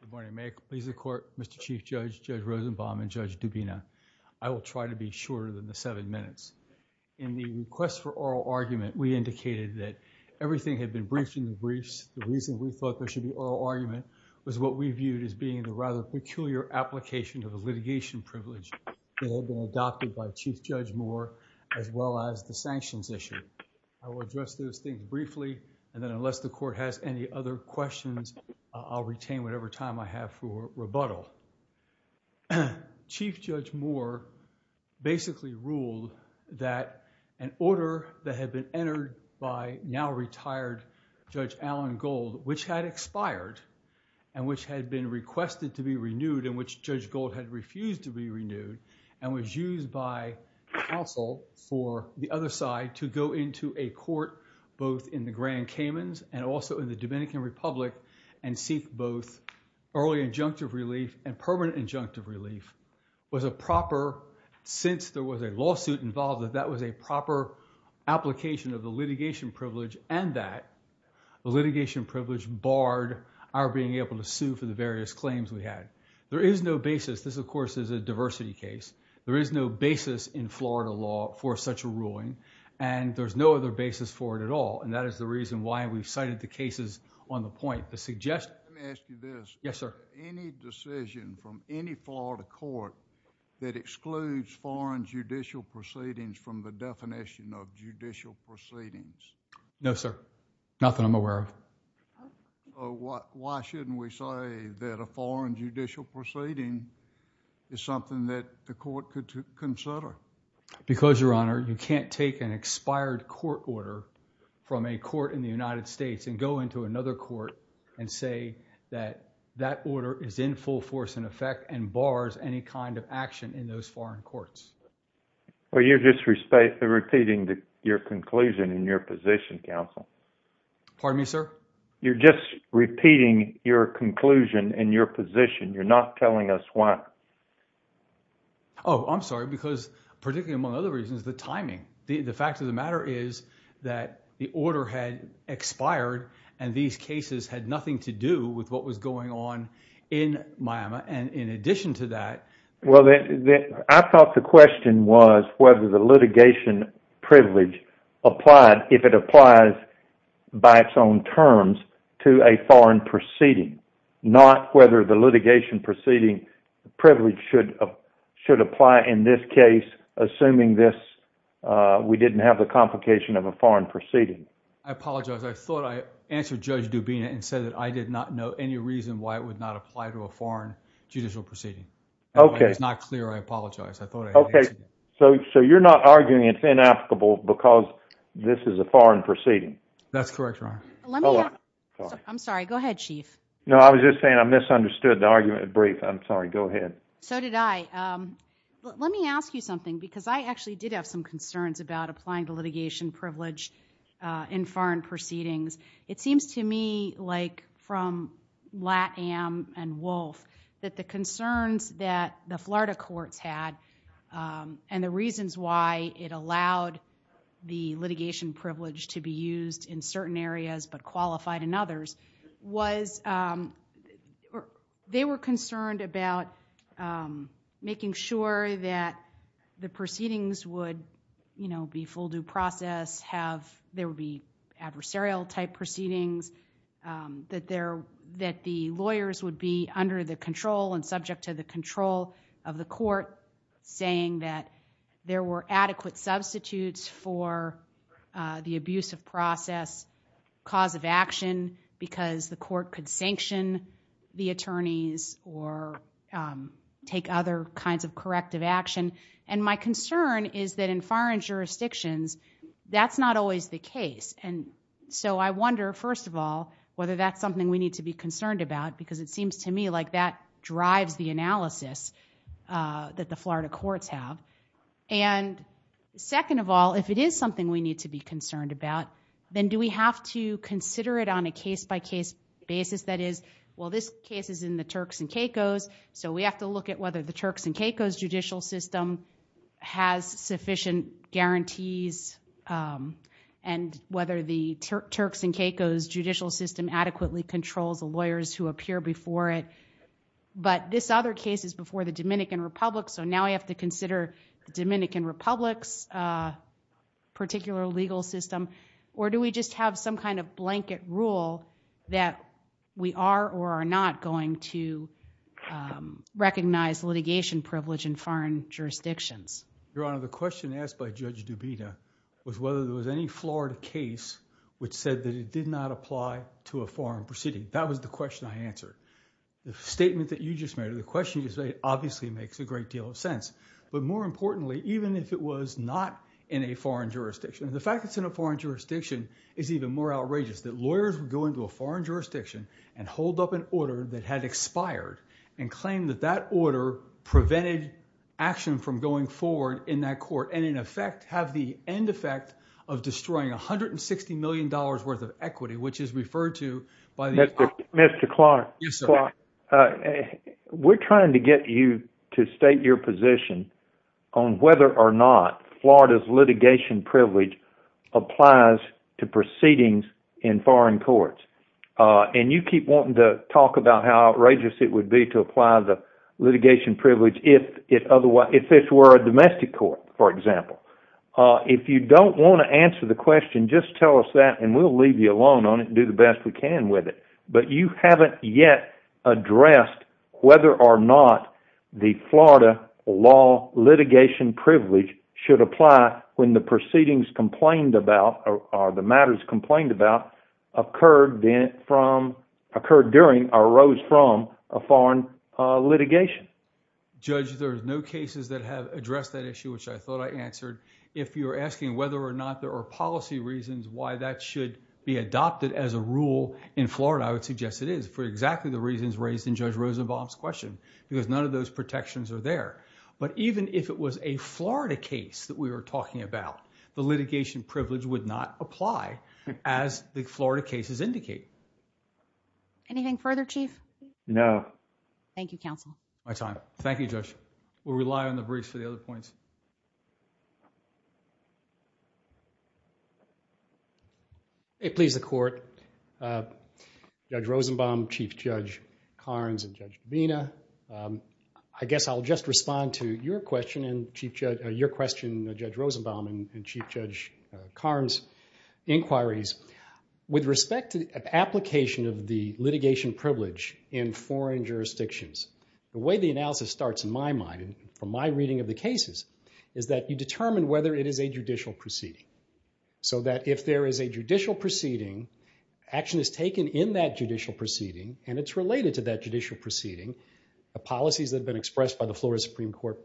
Good morning. May it please the Court, Mr. Chief Judge, Judge Rosenbaum, and Judge Dubina. I will try to be shorter than the seven minutes. In the request for oral argument, we indicated that everything had been briefed in the briefs. The reason we thought there should be oral argument was what we viewed as being the rather peculiar application of a litigation privilege that had been adopted by Chief Judge Moore as well as the sanctions issue. I will address those things briefly, and then unless the Court has any other questions, I'll retain whatever time I have for rebuttal. Chief Judge Moore basically ruled that an order that had been entered by now-retired Judge Alan Gold, which had expired and which had been requested to be renewed and which Judge Gold had refused to be renewed and was used by counsel for the other side to go into a grand Caymans and also in the Dominican Republic and seek both early injunctive relief and permanent injunctive relief was a proper, since there was a lawsuit involved, that that was a proper application of the litigation privilege and that the litigation privilege barred our being able to sue for the various claims we had. There is no basis, this of course is a diversity case, there is no basis in Florida law for such a ruling and there's no other basis for it at all and that is the reason why we cited the cases on the point. Let me ask you this. Yes, sir. Any decision from any Florida court that excludes foreign judicial proceedings from the definition of judicial proceedings? No, sir. Nothing I'm aware of. Why shouldn't we say that a foreign judicial proceeding is something that the Because, Your Honor, you can't take an expired case and put it back in the expired court order from a court in the United States and go into another court and say that that order is in full force and effect and bars any kind of action in those foreign courts. Well, you're just repeating your conclusion in your position, counsel. Pardon me, sir? You're just repeating your conclusion in your position. You're not telling us why. Oh, I'm sorry because particularly among other reasons, the timing. The fact of the matter is that the order had expired and these cases had nothing to do with what was going on in Miami and in addition to that. Well, I thought the question was whether the litigation privilege applied if it applies by its own terms to a foreign proceeding, not whether the litigation proceeding privilege should apply in this case assuming this, we didn't have the complication of a foreign proceeding. I apologize. I thought I answered Judge Dubina and said that I did not know any reason why it would not apply to a foreign judicial proceeding. Okay. It's not clear. I apologize. I thought I answered it. Okay. So you're not arguing it's inapplicable because this is a foreign proceeding? That's correct, Your Honor. Let me ask. I'm sorry. Go ahead, Chief. No, I was just saying I misunderstood the argument at brief. I'm sorry. Go ahead. So did I. Let me ask you something because I actually did have some concerns about applying the litigation privilege in foreign proceedings. It seems to me like from Latam and Wolf that the concerns that the Florida courts had and the reasons why it allowed the litigation privilege to be used in certain areas but they were concerned about making sure that the proceedings would be full due process, there would be adversarial type proceedings, that the lawyers would be under the control and subject to the control of the court saying that there were adequate substitutes for the abuse of process, cause of action because the court could sanction the attorneys or take other kinds of corrective action. And my concern is that in foreign jurisdictions, that's not always the case. And so I wonder, first of all, whether that's something we need to be concerned about because it seems to me like that drives the analysis that the Florida courts have. And second of all, if it is something we need to be concerned about, the basis that is, well, this case is in the Turks and Caicos, so we have to look at whether the Turks and Caicos judicial system has sufficient guarantees and whether the Turks and Caicos judicial system adequately controls the lawyers who appear before it. But this other case is before the Dominican Republic, so now we have to consider the Dominican Republic's particular legal system or do we just have some kind of blanket rule that we are or are not going to recognize litigation privilege in foreign jurisdictions? Your Honor, the question asked by Judge Dubita was whether there was any Florida case which said that it did not apply to a foreign proceeding. That was the question I answered. The statement that you just made, the question you just made, obviously makes a great deal of sense. But more importantly, even if it was not in a foreign jurisdiction, the fact that it is in a foreign jurisdiction is even more outrageous. That lawyers would go into a foreign jurisdiction and hold up an order that had expired and claim that that order prevented action from going forward in that court and in effect have the end effect of destroying $160 million worth of equity, which is referred to by the Dominican Republic. Mr. Clark, we are trying to get you to state your position on whether or not Florida's litigation privilege applies to proceedings in foreign courts. And you keep wanting to talk about how outrageous it would be to apply the litigation privilege if this were a domestic court, for example. If you don't want to answer the question, just tell us that and we will leave you alone on it and do the best we can with it. But you haven't yet addressed whether or not the Florida law litigation privilege should apply when the proceedings complained about or the matters complained about occurred during or arose from a foreign litigation. Judge, there are no cases that have addressed that issue, which I thought I answered. If you are asking whether or not there are policy reasons why that should be adopted as a rule in Florida, I would suggest it is for exactly the reasons raised in Judge Rosenbaum's question, because none of those protections are there. But even if it was a Florida case that we were talking about, the litigation privilege would not apply as the Florida cases indicate. Anything further, Chief? No. Thank you, Counsel. My time. Thank you, Judge. We rely on the briefs for the other points. Please, the Court. Judge Rosenbaum, Chief Judge Karnes, and Judge Davina, I guess I'll just respond to your question, Judge Rosenbaum, and Chief Judge Karnes' inquiries. With respect to the application of the litigation privilege in foreign jurisdictions, the way the analysis starts in my mind, from my experience in the cases, is that you determine whether it is a judicial proceeding. So that if there is a judicial proceeding, action is taken in that judicial proceeding, and it's related to that judicial proceeding. The policies that have been expressed by the Florida Supreme Court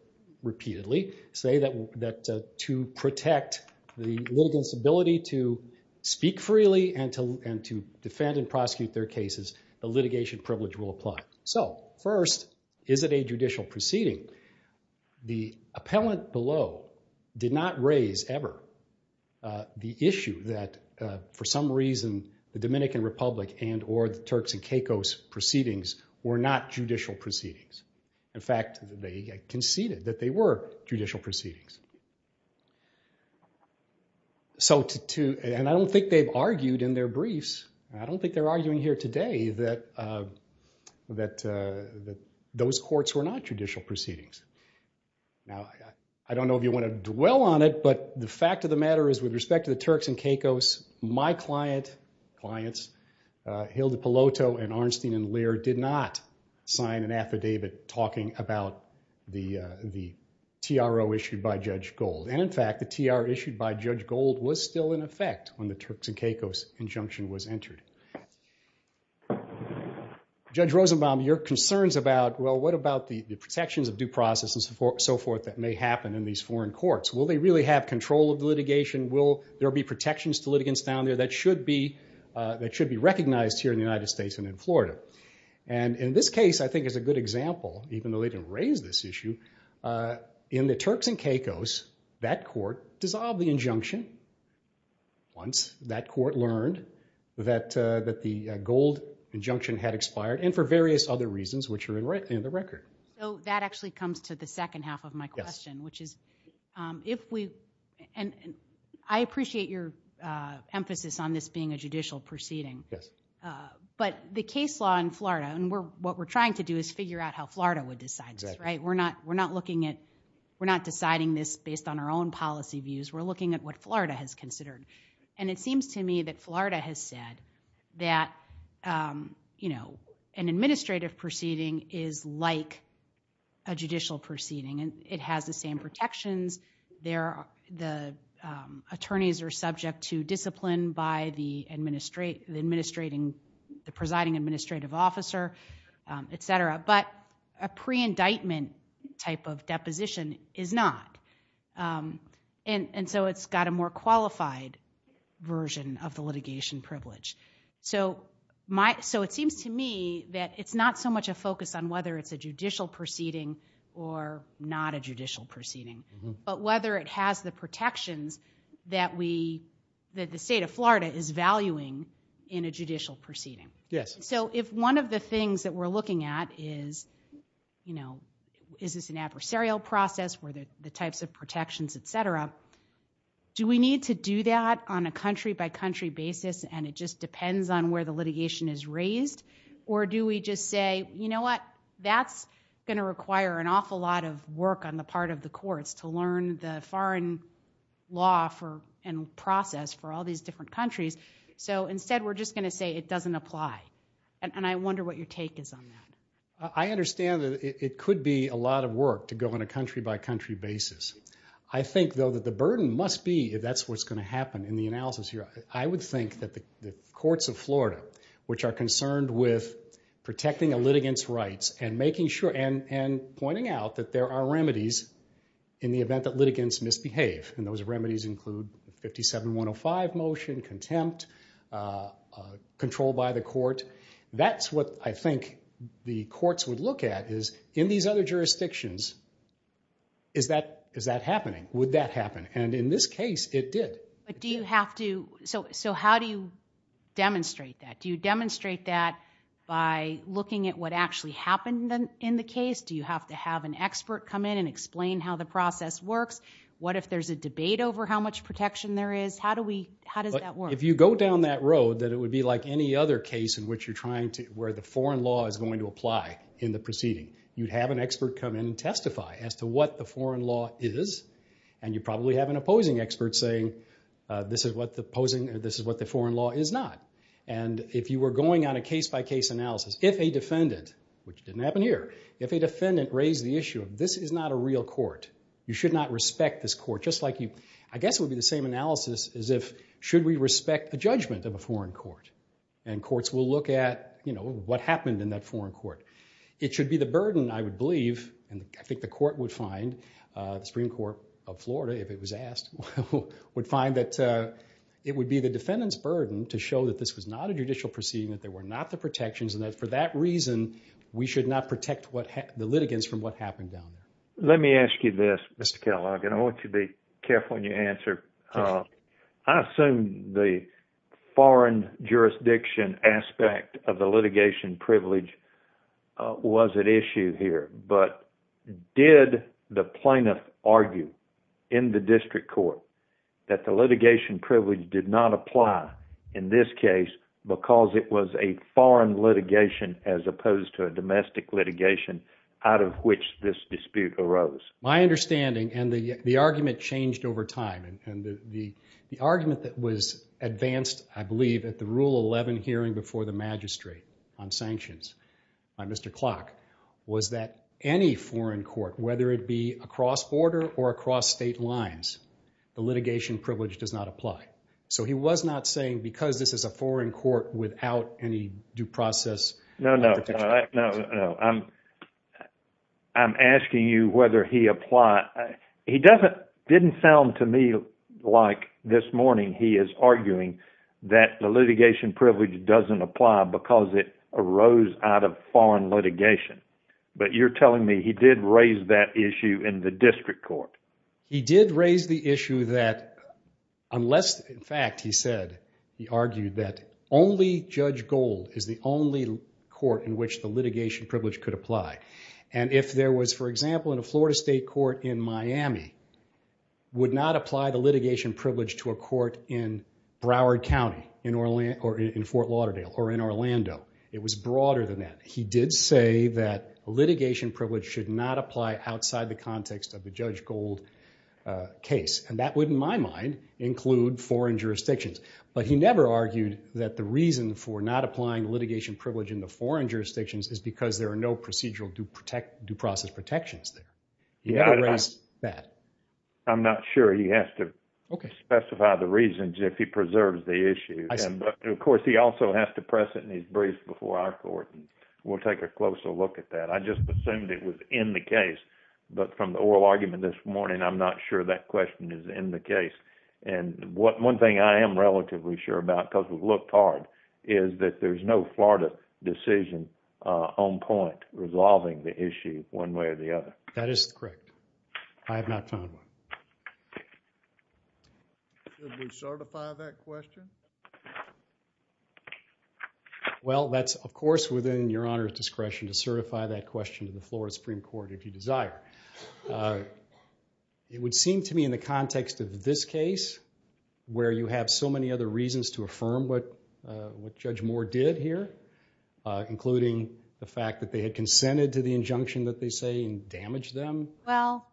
repeatedly say that to protect the litigants' ability to speak freely and to defend and prosecute their cases, the litigation privilege will apply. So first, is it a judicial proceeding? The appellant below did not raise ever the issue that, for some reason, the Dominican Republic and or the Turks and Caicos proceedings were not judicial proceedings. In fact, they conceded that they were judicial proceedings. And I don't think they've argued in their those courts were not judicial proceedings. Now, I don't know if you want to dwell on it, but the fact of the matter is, with respect to the Turks and Caicos, my client, clients, Hilda Peloto and Arnstein and Lear did not sign an affidavit talking about the TRO issued by Judge Gold. And in fact, the TR issued by Judge Gold was still in effect when the Turks and Caicos injunction was entered. Judge Rosenbaum, your concerns about, well, what about the protections of due process and so forth that may happen in these foreign courts? Will they really have control of litigation? Will there be protections to litigants down there that should be recognized here in the United States and in Florida? And in this case, I think is a good example, even though they didn't raise this issue, in the Turks and Caicos, that court dissolved the injunction once that court learned that the Gold injunction had expired and for various other reasons, which are in the record. So that actually comes to the second half of my question, which is, if we, and I appreciate your emphasis on this being a judicial proceeding. But the case law in Florida, and what we're trying to do is figure out how Florida would decide this, right? We're not looking at, we're not deciding this based on our own experience, but Florida has said that an administrative proceeding is like a judicial proceeding. It has the same protections. The attorneys are subject to discipline by the presiding administrative officer, et cetera. But a pre-indictment type of deposition is not. And so it's got a more qualified version of the litigation privilege. So my, so it seems to me that it's not so much a focus on whether it's a judicial proceeding or not a judicial proceeding, but whether it has the protections that we, that the state of Florida is valuing in a judicial proceeding. Yes. So if one of the things that we're looking at is, you know, is this an adversarial process where the types of protections, et cetera, do we need to do that on a country by country basis? And it just depends on where the litigation is raised. Or do we just say, you know what, that's going to require an awful lot of work on the part of the courts to learn the foreign law for, and process for all these different countries. So instead, we're just going to say it doesn't apply. And I wonder what your take is on that. I understand that it must be, if that's what's going to happen in the analysis here. I would think that the courts of Florida, which are concerned with protecting a litigant's rights and making sure, and pointing out that there are remedies in the event that litigants misbehave. And those remedies include 57-105 motion, contempt, control by the court. That's what I think the courts would look at is, in these other jurisdictions, is that happening? Would that happen? And in this case, it did. But do you have to, so how do you demonstrate that? Do you demonstrate that by looking at what actually happened in the case? Do you have to have an expert come in and explain how the process works? What if there's a debate over how much protection there is? How does that work? If you go down that road, that it would be like any other case where the foreign law is going to apply in the proceeding. You'd have an expert come in and testify as to what the foreign law is, and you'd probably have an opposing expert saying, this is what the foreign law is not. And if you were going on a case-by-case analysis, if a defendant, which didn't happen here, if a defendant raised the issue of, this is not a real court, you should not respect this court, just like you, I guess it would be the same analysis as if, should we respect the judgment of a foreign court? And courts will look at what happened in that foreign court. It should be the burden, I would believe, and I think the court would find, the Supreme Court of Florida, if it was asked, would find that it would be the defendant's burden to show that this was not a judicial proceeding, that there were not the protections, and that for that reason, we should not protect the litigants from what happened down there. Let me ask you this, Mr. Kellogg, and I want you to be careful when you answer. I assume the foreign jurisdiction aspect of the litigation privilege was at issue here, but did the plaintiff argue in the district court that the litigation privilege did not apply in this case because it was a foreign litigation as opposed to a domestic litigation out of which this dispute arose? My understanding, and the argument changed over time, and the argument that was advanced, I believe, at the Rule 11 hearing before the magistrate on sanctions by Mr. Klock was that any foreign court, whether it be across border or across state lines, the litigation privilege does not apply. So he was not saying because this is a foreign court without any due process. No, no. I'm asking you whether he applied. He didn't sound to me like this morning he is arguing that the litigation privilege doesn't apply because it arose out of foreign litigation, but you're telling me he did raise that issue in the district court? He did raise the issue that unless, in fact, he said, he argued that only Judge Gold is the only court in which the litigation privilege could apply. And if there was, for example, in a Florida state court in Miami, would not apply the litigation privilege to a court in Broward County or in Fort Lauderdale or in Orlando. It was broader than that. He did say that litigation privilege should not apply outside the context of the Judge Gold case. And that would, in my mind, include foreign jurisdictions. But he never argued that the reason for not applying litigation privilege in the foreign jurisdictions is because there are no procedural due process protections there. He never raised that. I'm not sure he has to specify the reasons if he preserves the issue. Of course, he also has to press it in his brief before our court. We'll take a closer look at that. I just assumed it was in the case. But from the oral argument this morning, I'm not sure that question is in the case. And one thing I am relatively sure about, because we've looked hard, is that there's no Florida decision on point resolving the issue one way or the other. That is correct. I have not found one. Should we certify that question? Well, that's of course within Your Honor's discretion to certify that question to the Florida Supreme Court if you desire. It would seem to me in the context of this case, where you have so much to say, there's a lot more to say. Well,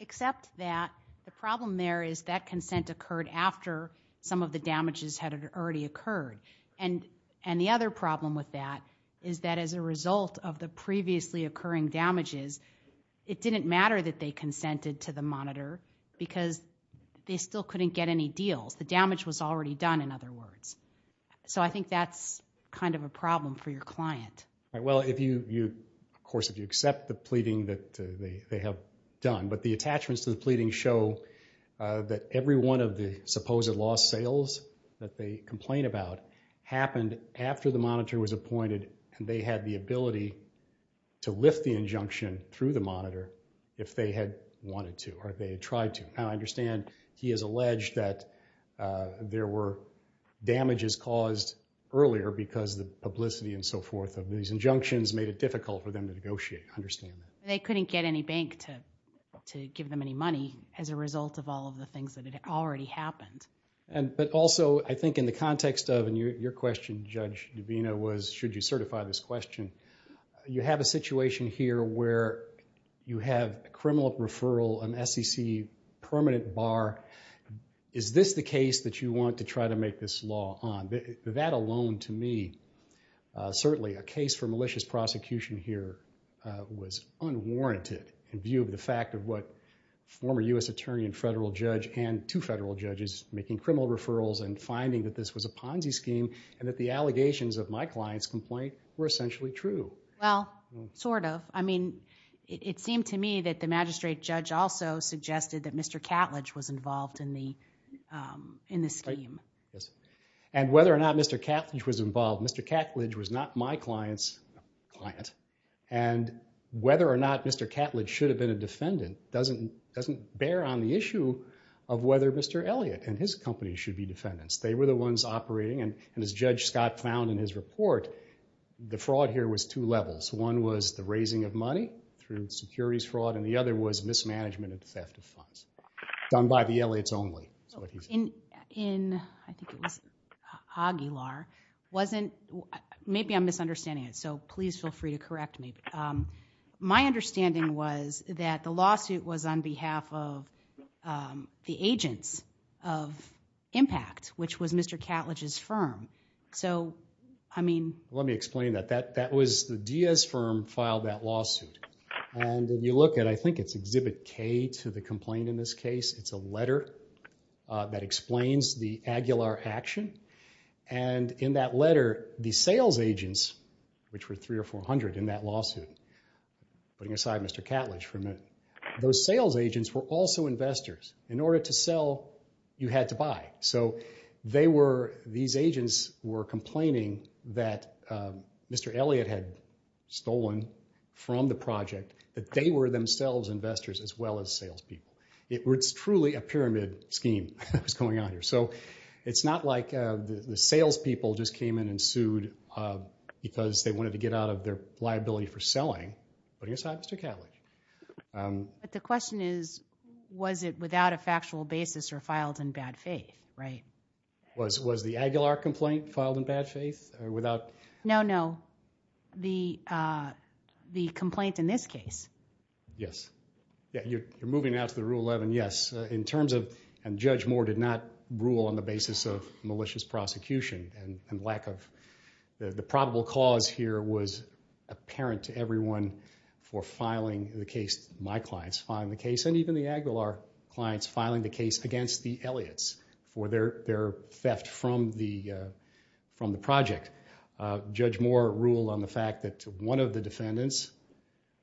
except that the problem there is that consent occurred after some of the damages had already occurred. And the other problem with that is that as a result of the previously occurring damages, it didn't matter that they consented to the monitor because they still couldn't get any deals. The damage was already done, in other words. So I think that's kind of a problem for your client. Of course, if you accept the pleading that they have done. But the attachments to the pleading show that every one of the supposed lost sales that they complain about happened after the monitor was appointed and they had the ability to lift the injunction through the monitor if they had wanted to or if they had tried to. Now, I understand he has alleged that there were damages caused earlier because the publicity and so forth of these injunctions made it difficult for them to negotiate. I understand that. They couldn't get any bank to give them any money as a result of all of the things that had already happened. But also, I think in the context of, and your question, Judge Davino, was should you certify this question, you have a situation here where you have a criminal referral, an SEC permanent bar. Is this the case that you want to try to make this law on? That alone, to me, certainly a case for malicious prosecution here was unwarranted in view of the fact of what former U.S. Attorney and Federal judges making criminal referrals and finding that this was a Ponzi scheme and that the allegations of my client's complaint were essentially true. Well, sort of. I mean, it seemed to me that the magistrate judge also suggested that Mr. Catledge was involved in the scheme. And whether or not Mr. Catledge was involved, Mr. Catledge was not my client's client. And whether or not Mr. Catledge should have been a defendant doesn't bear on the issue of whether Mr. Elliott and his company should be defendants. They were the ones operating, and as Judge Scott found in his report, the fraud here was two levels. One was the raising of money through securities fraud, and the other was mismanagement and theft of funds done by the Elliotts only. In, I think it was Aguilar, wasn't... was that the lawsuit was on behalf of the agents of Impact, which was Mr. Catledge's firm. So, I mean... Let me explain that. That was the Diaz firm filed that lawsuit. And you look at, I think it's Exhibit K to the complaint in this case, it's a letter that explains the Aguilar action. And in that letter, the sales agents were also investors. In order to sell, you had to buy. So, they were... these agents were complaining that Mr. Elliott had stolen from the project, that they were themselves investors as well as salespeople. It's truly a pyramid scheme that was going on here. So, it's not like the salespeople just came in and sued because they wanted to get out of their liability for selling, putting aside Mr. Catledge. But the question is, was it without a factual basis or filed in bad faith, right? Was the Aguilar complaint filed in bad faith or without... No, no. The complaint in this case. Yes. You're moving now to the Rule 11, yes. In terms of... and Judge Moore did not rule on the basis of malicious prosecution and lack of... the probable cause here was apparent to everyone for filing the case... my clients filing the case and even the Aguilar clients filing the case against the Elliotts for their theft from the project. Judge Moore ruled on the fact that one of the defendants,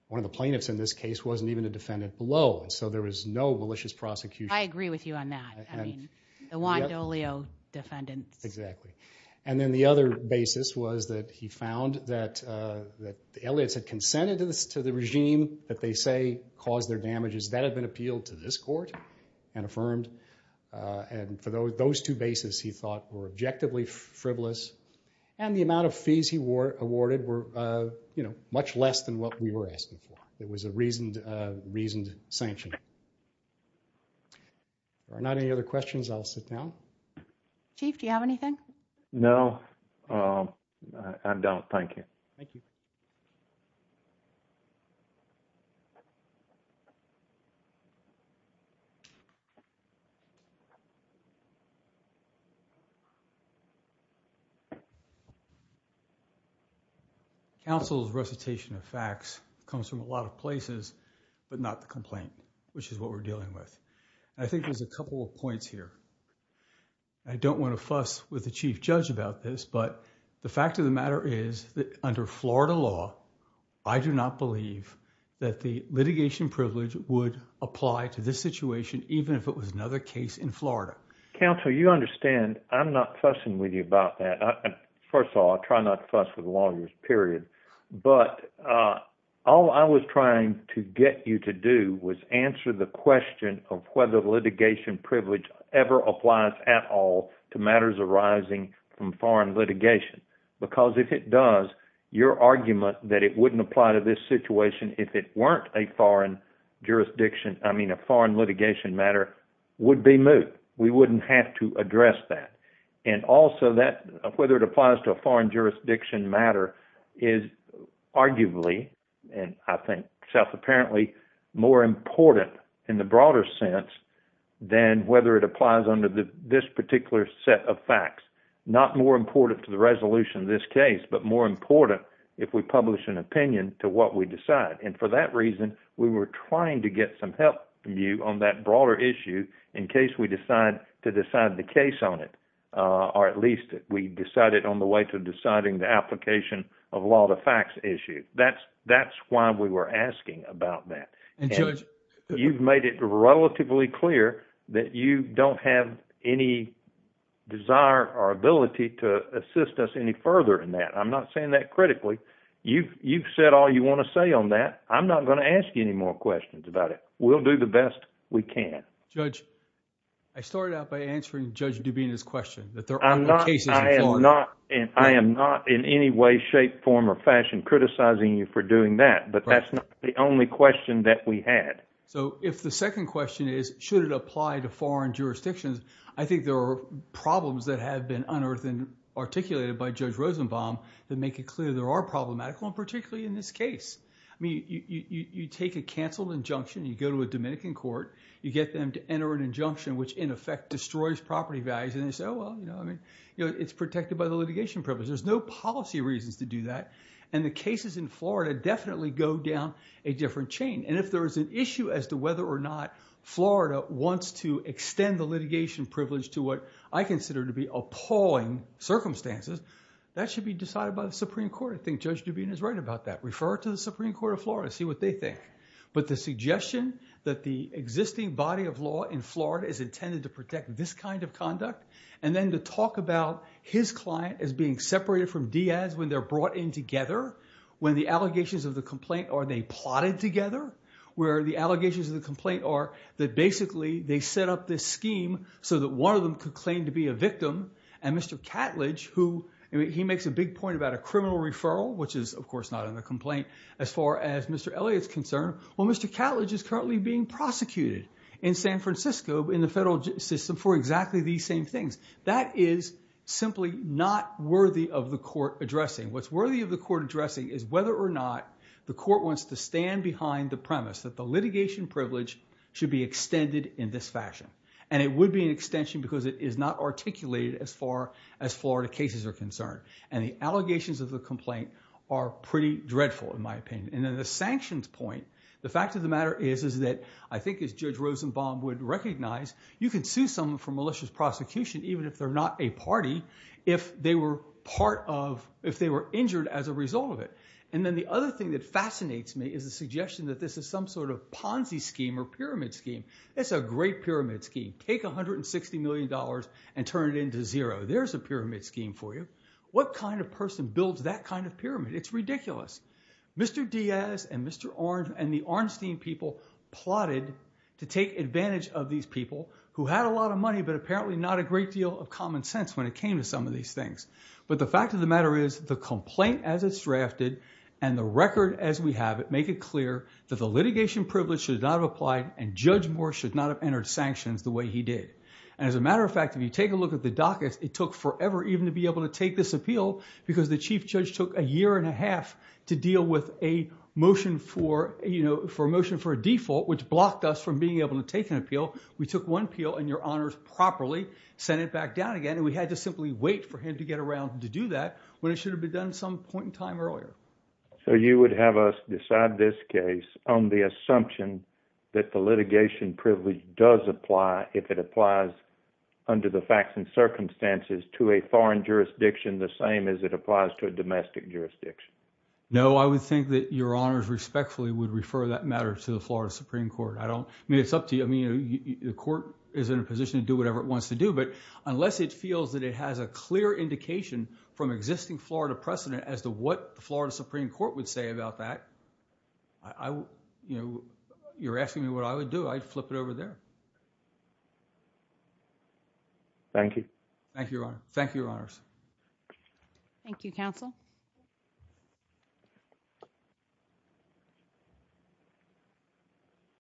one of the plaintiffs in this case wasn't even a defendant below and so there was no malicious prosecution. I agree with you on that. I mean, the Juan D'Olio defendants. Exactly. And then the other basis was that he found that the Elliotts had consented to the regime that they say caused their damages. That had been appealed to this court and affirmed. And for those two bases he thought were objectively frivolous and the amount of fees he awarded were, you know, much less than what we were asking for. It was a reasoned sanction. If there are not any other questions, I'll sit down. Chief, do you have anything? No, I don't. Thank you. Counsel's recitation of facts comes from a lot of places, but not the complaint, which is what we're dealing with. I think there's a couple of points here. I don't want to fuss with the chief judge about this, but the fact of the matter is that under Florida law, I do not believe that the litigation privilege would apply to this situation, even if it was another case in Florida. Counsel, you understand I'm not fussing with you about that. First of all, I try not to fuss with lawyers, period. But all I was trying to get you to do was answer the question of whether litigation privilege ever applies at all to matters arising from foreign litigation. Because if it does, your argument that it wouldn't apply to this situation if it weren't a foreign jurisdiction, I mean a foreign litigation matter, would be moot. We wouldn't have to address that. And also whether it applies to a foreign jurisdiction matter is arguably, and I think self-apparently, more important in the broader sense than whether it applies under this particular set of facts. Not more important to the resolution of this case, but more important if we publish an opinion to what we decide. And for that reason, we were trying to get some help from you on that broader issue in case we decide to decide the case on it. Or at least we decided on the way to deciding the application of law to facts issue. That's why we were asking about that. You've made it relatively clear that you don't have any desire or ability to assist us any further in that. I'm not saying that critically. You've said all you want to say on that. I'm not going to ask you any more questions about it. We'll do the best we can. Judge, I started out by answering Judge Dubina's question. I am not in any way, shape, form or fashion criticizing you for doing that. But that's not the only question that we had. So if the second question is, should it apply to foreign jurisdictions, I think there are problems that have been unearthed and articulated by Judge Rosenbaum that make it clear there are problematic ones, particularly in this case. I mean, you take a canceled injunction, you go to a Dominican court, you get them to enter an injunction which in effect destroys property values and they say, well, you know, I mean, you know, it's protected by the litigation privilege. There's no policy reasons to do that. And the cases in Florida definitely go down a different chain. And if there is an issue as to whether or not Florida wants to extend the litigation privilege to what I consider to be appalling circumstances, that should be decided by the Supreme Court. I think Judge Dubina is right about that. Refer to the Supreme Court of Florida, see what they think. But the suggestion that the existing body of law in Florida is intended to protect this kind of conduct and then to talk about his client as being separated from Diaz when they're brought in together, when the allegations of the complaint are they plotted together, where the allegations of the complaint are that basically they set up this scheme so that one of them could claim to be a victim and Mr. Catledge, who, he makes a big point about a criminal referral, which is of course not in the complaint as far as Mr. Elliott's concerned. Well, Mr. Catledge is currently being That is simply not worthy of the court addressing. What's worthy of the court addressing is whether or not the court wants to stand behind the premise that the litigation privilege should be extended in this fashion. And it would be an extension because it is not articulated as far as Florida cases are concerned. And the allegations of the complaint are pretty dreadful in my opinion. And then the sanctions point, the fact of the matter is that I think as Judge Rosenbaum would recognize, you can sue someone for malicious prosecution even if they're not a party, if they were part of, if they were injured as a result of it. And then the other thing that fascinates me is the suggestion that this is some sort of Ponzi scheme or pyramid scheme. It's a great pyramid scheme. Take $160 million and turn it into zero. There's a pyramid scheme for you. What kind of person builds that kind of pyramid? It's ridiculous. Mr. Diaz and Mr. Orange and the Arnstein people plotted to take advantage of these people who had a lot of money, but apparently not a great deal of common sense when it came to some of these things. But the fact of the matter is the complaint as it's drafted and the record as we have it, make it clear that the litigation privilege should not have applied and Judge Moore should not have entered sanctions the way he did. And as a matter of fact, if you take a look at the docket, it took forever even to be able to take this appeal because the chief judge took a year and a half to deal with a motion for, you know, for a motion for a default, which blocked us from being able to take an appeal. We took one appeal and your honors properly sent it back down again. And we had to simply wait for him to get around to do that when it should have been done some point in time earlier. So you would have us decide this case on the assumption that the litigation privilege does apply if it applies under the facts and circumstances to a foreign jurisdiction the same as it applies to a domestic jurisdiction. No, I would think that your honors respectfully would refer that matter to the Florida Supreme Court. I don't mean it's up to you. I mean, the court is in a position to do whatever it wants to do, but unless it feels that it has a clear indication from existing Florida precedent as to what the Florida Supreme Court would say about that, I, you know, you're asking me what I would do. I'd flip it over there. Thank you. Thank you. Thank you. Your honors. Thank you. Counsel.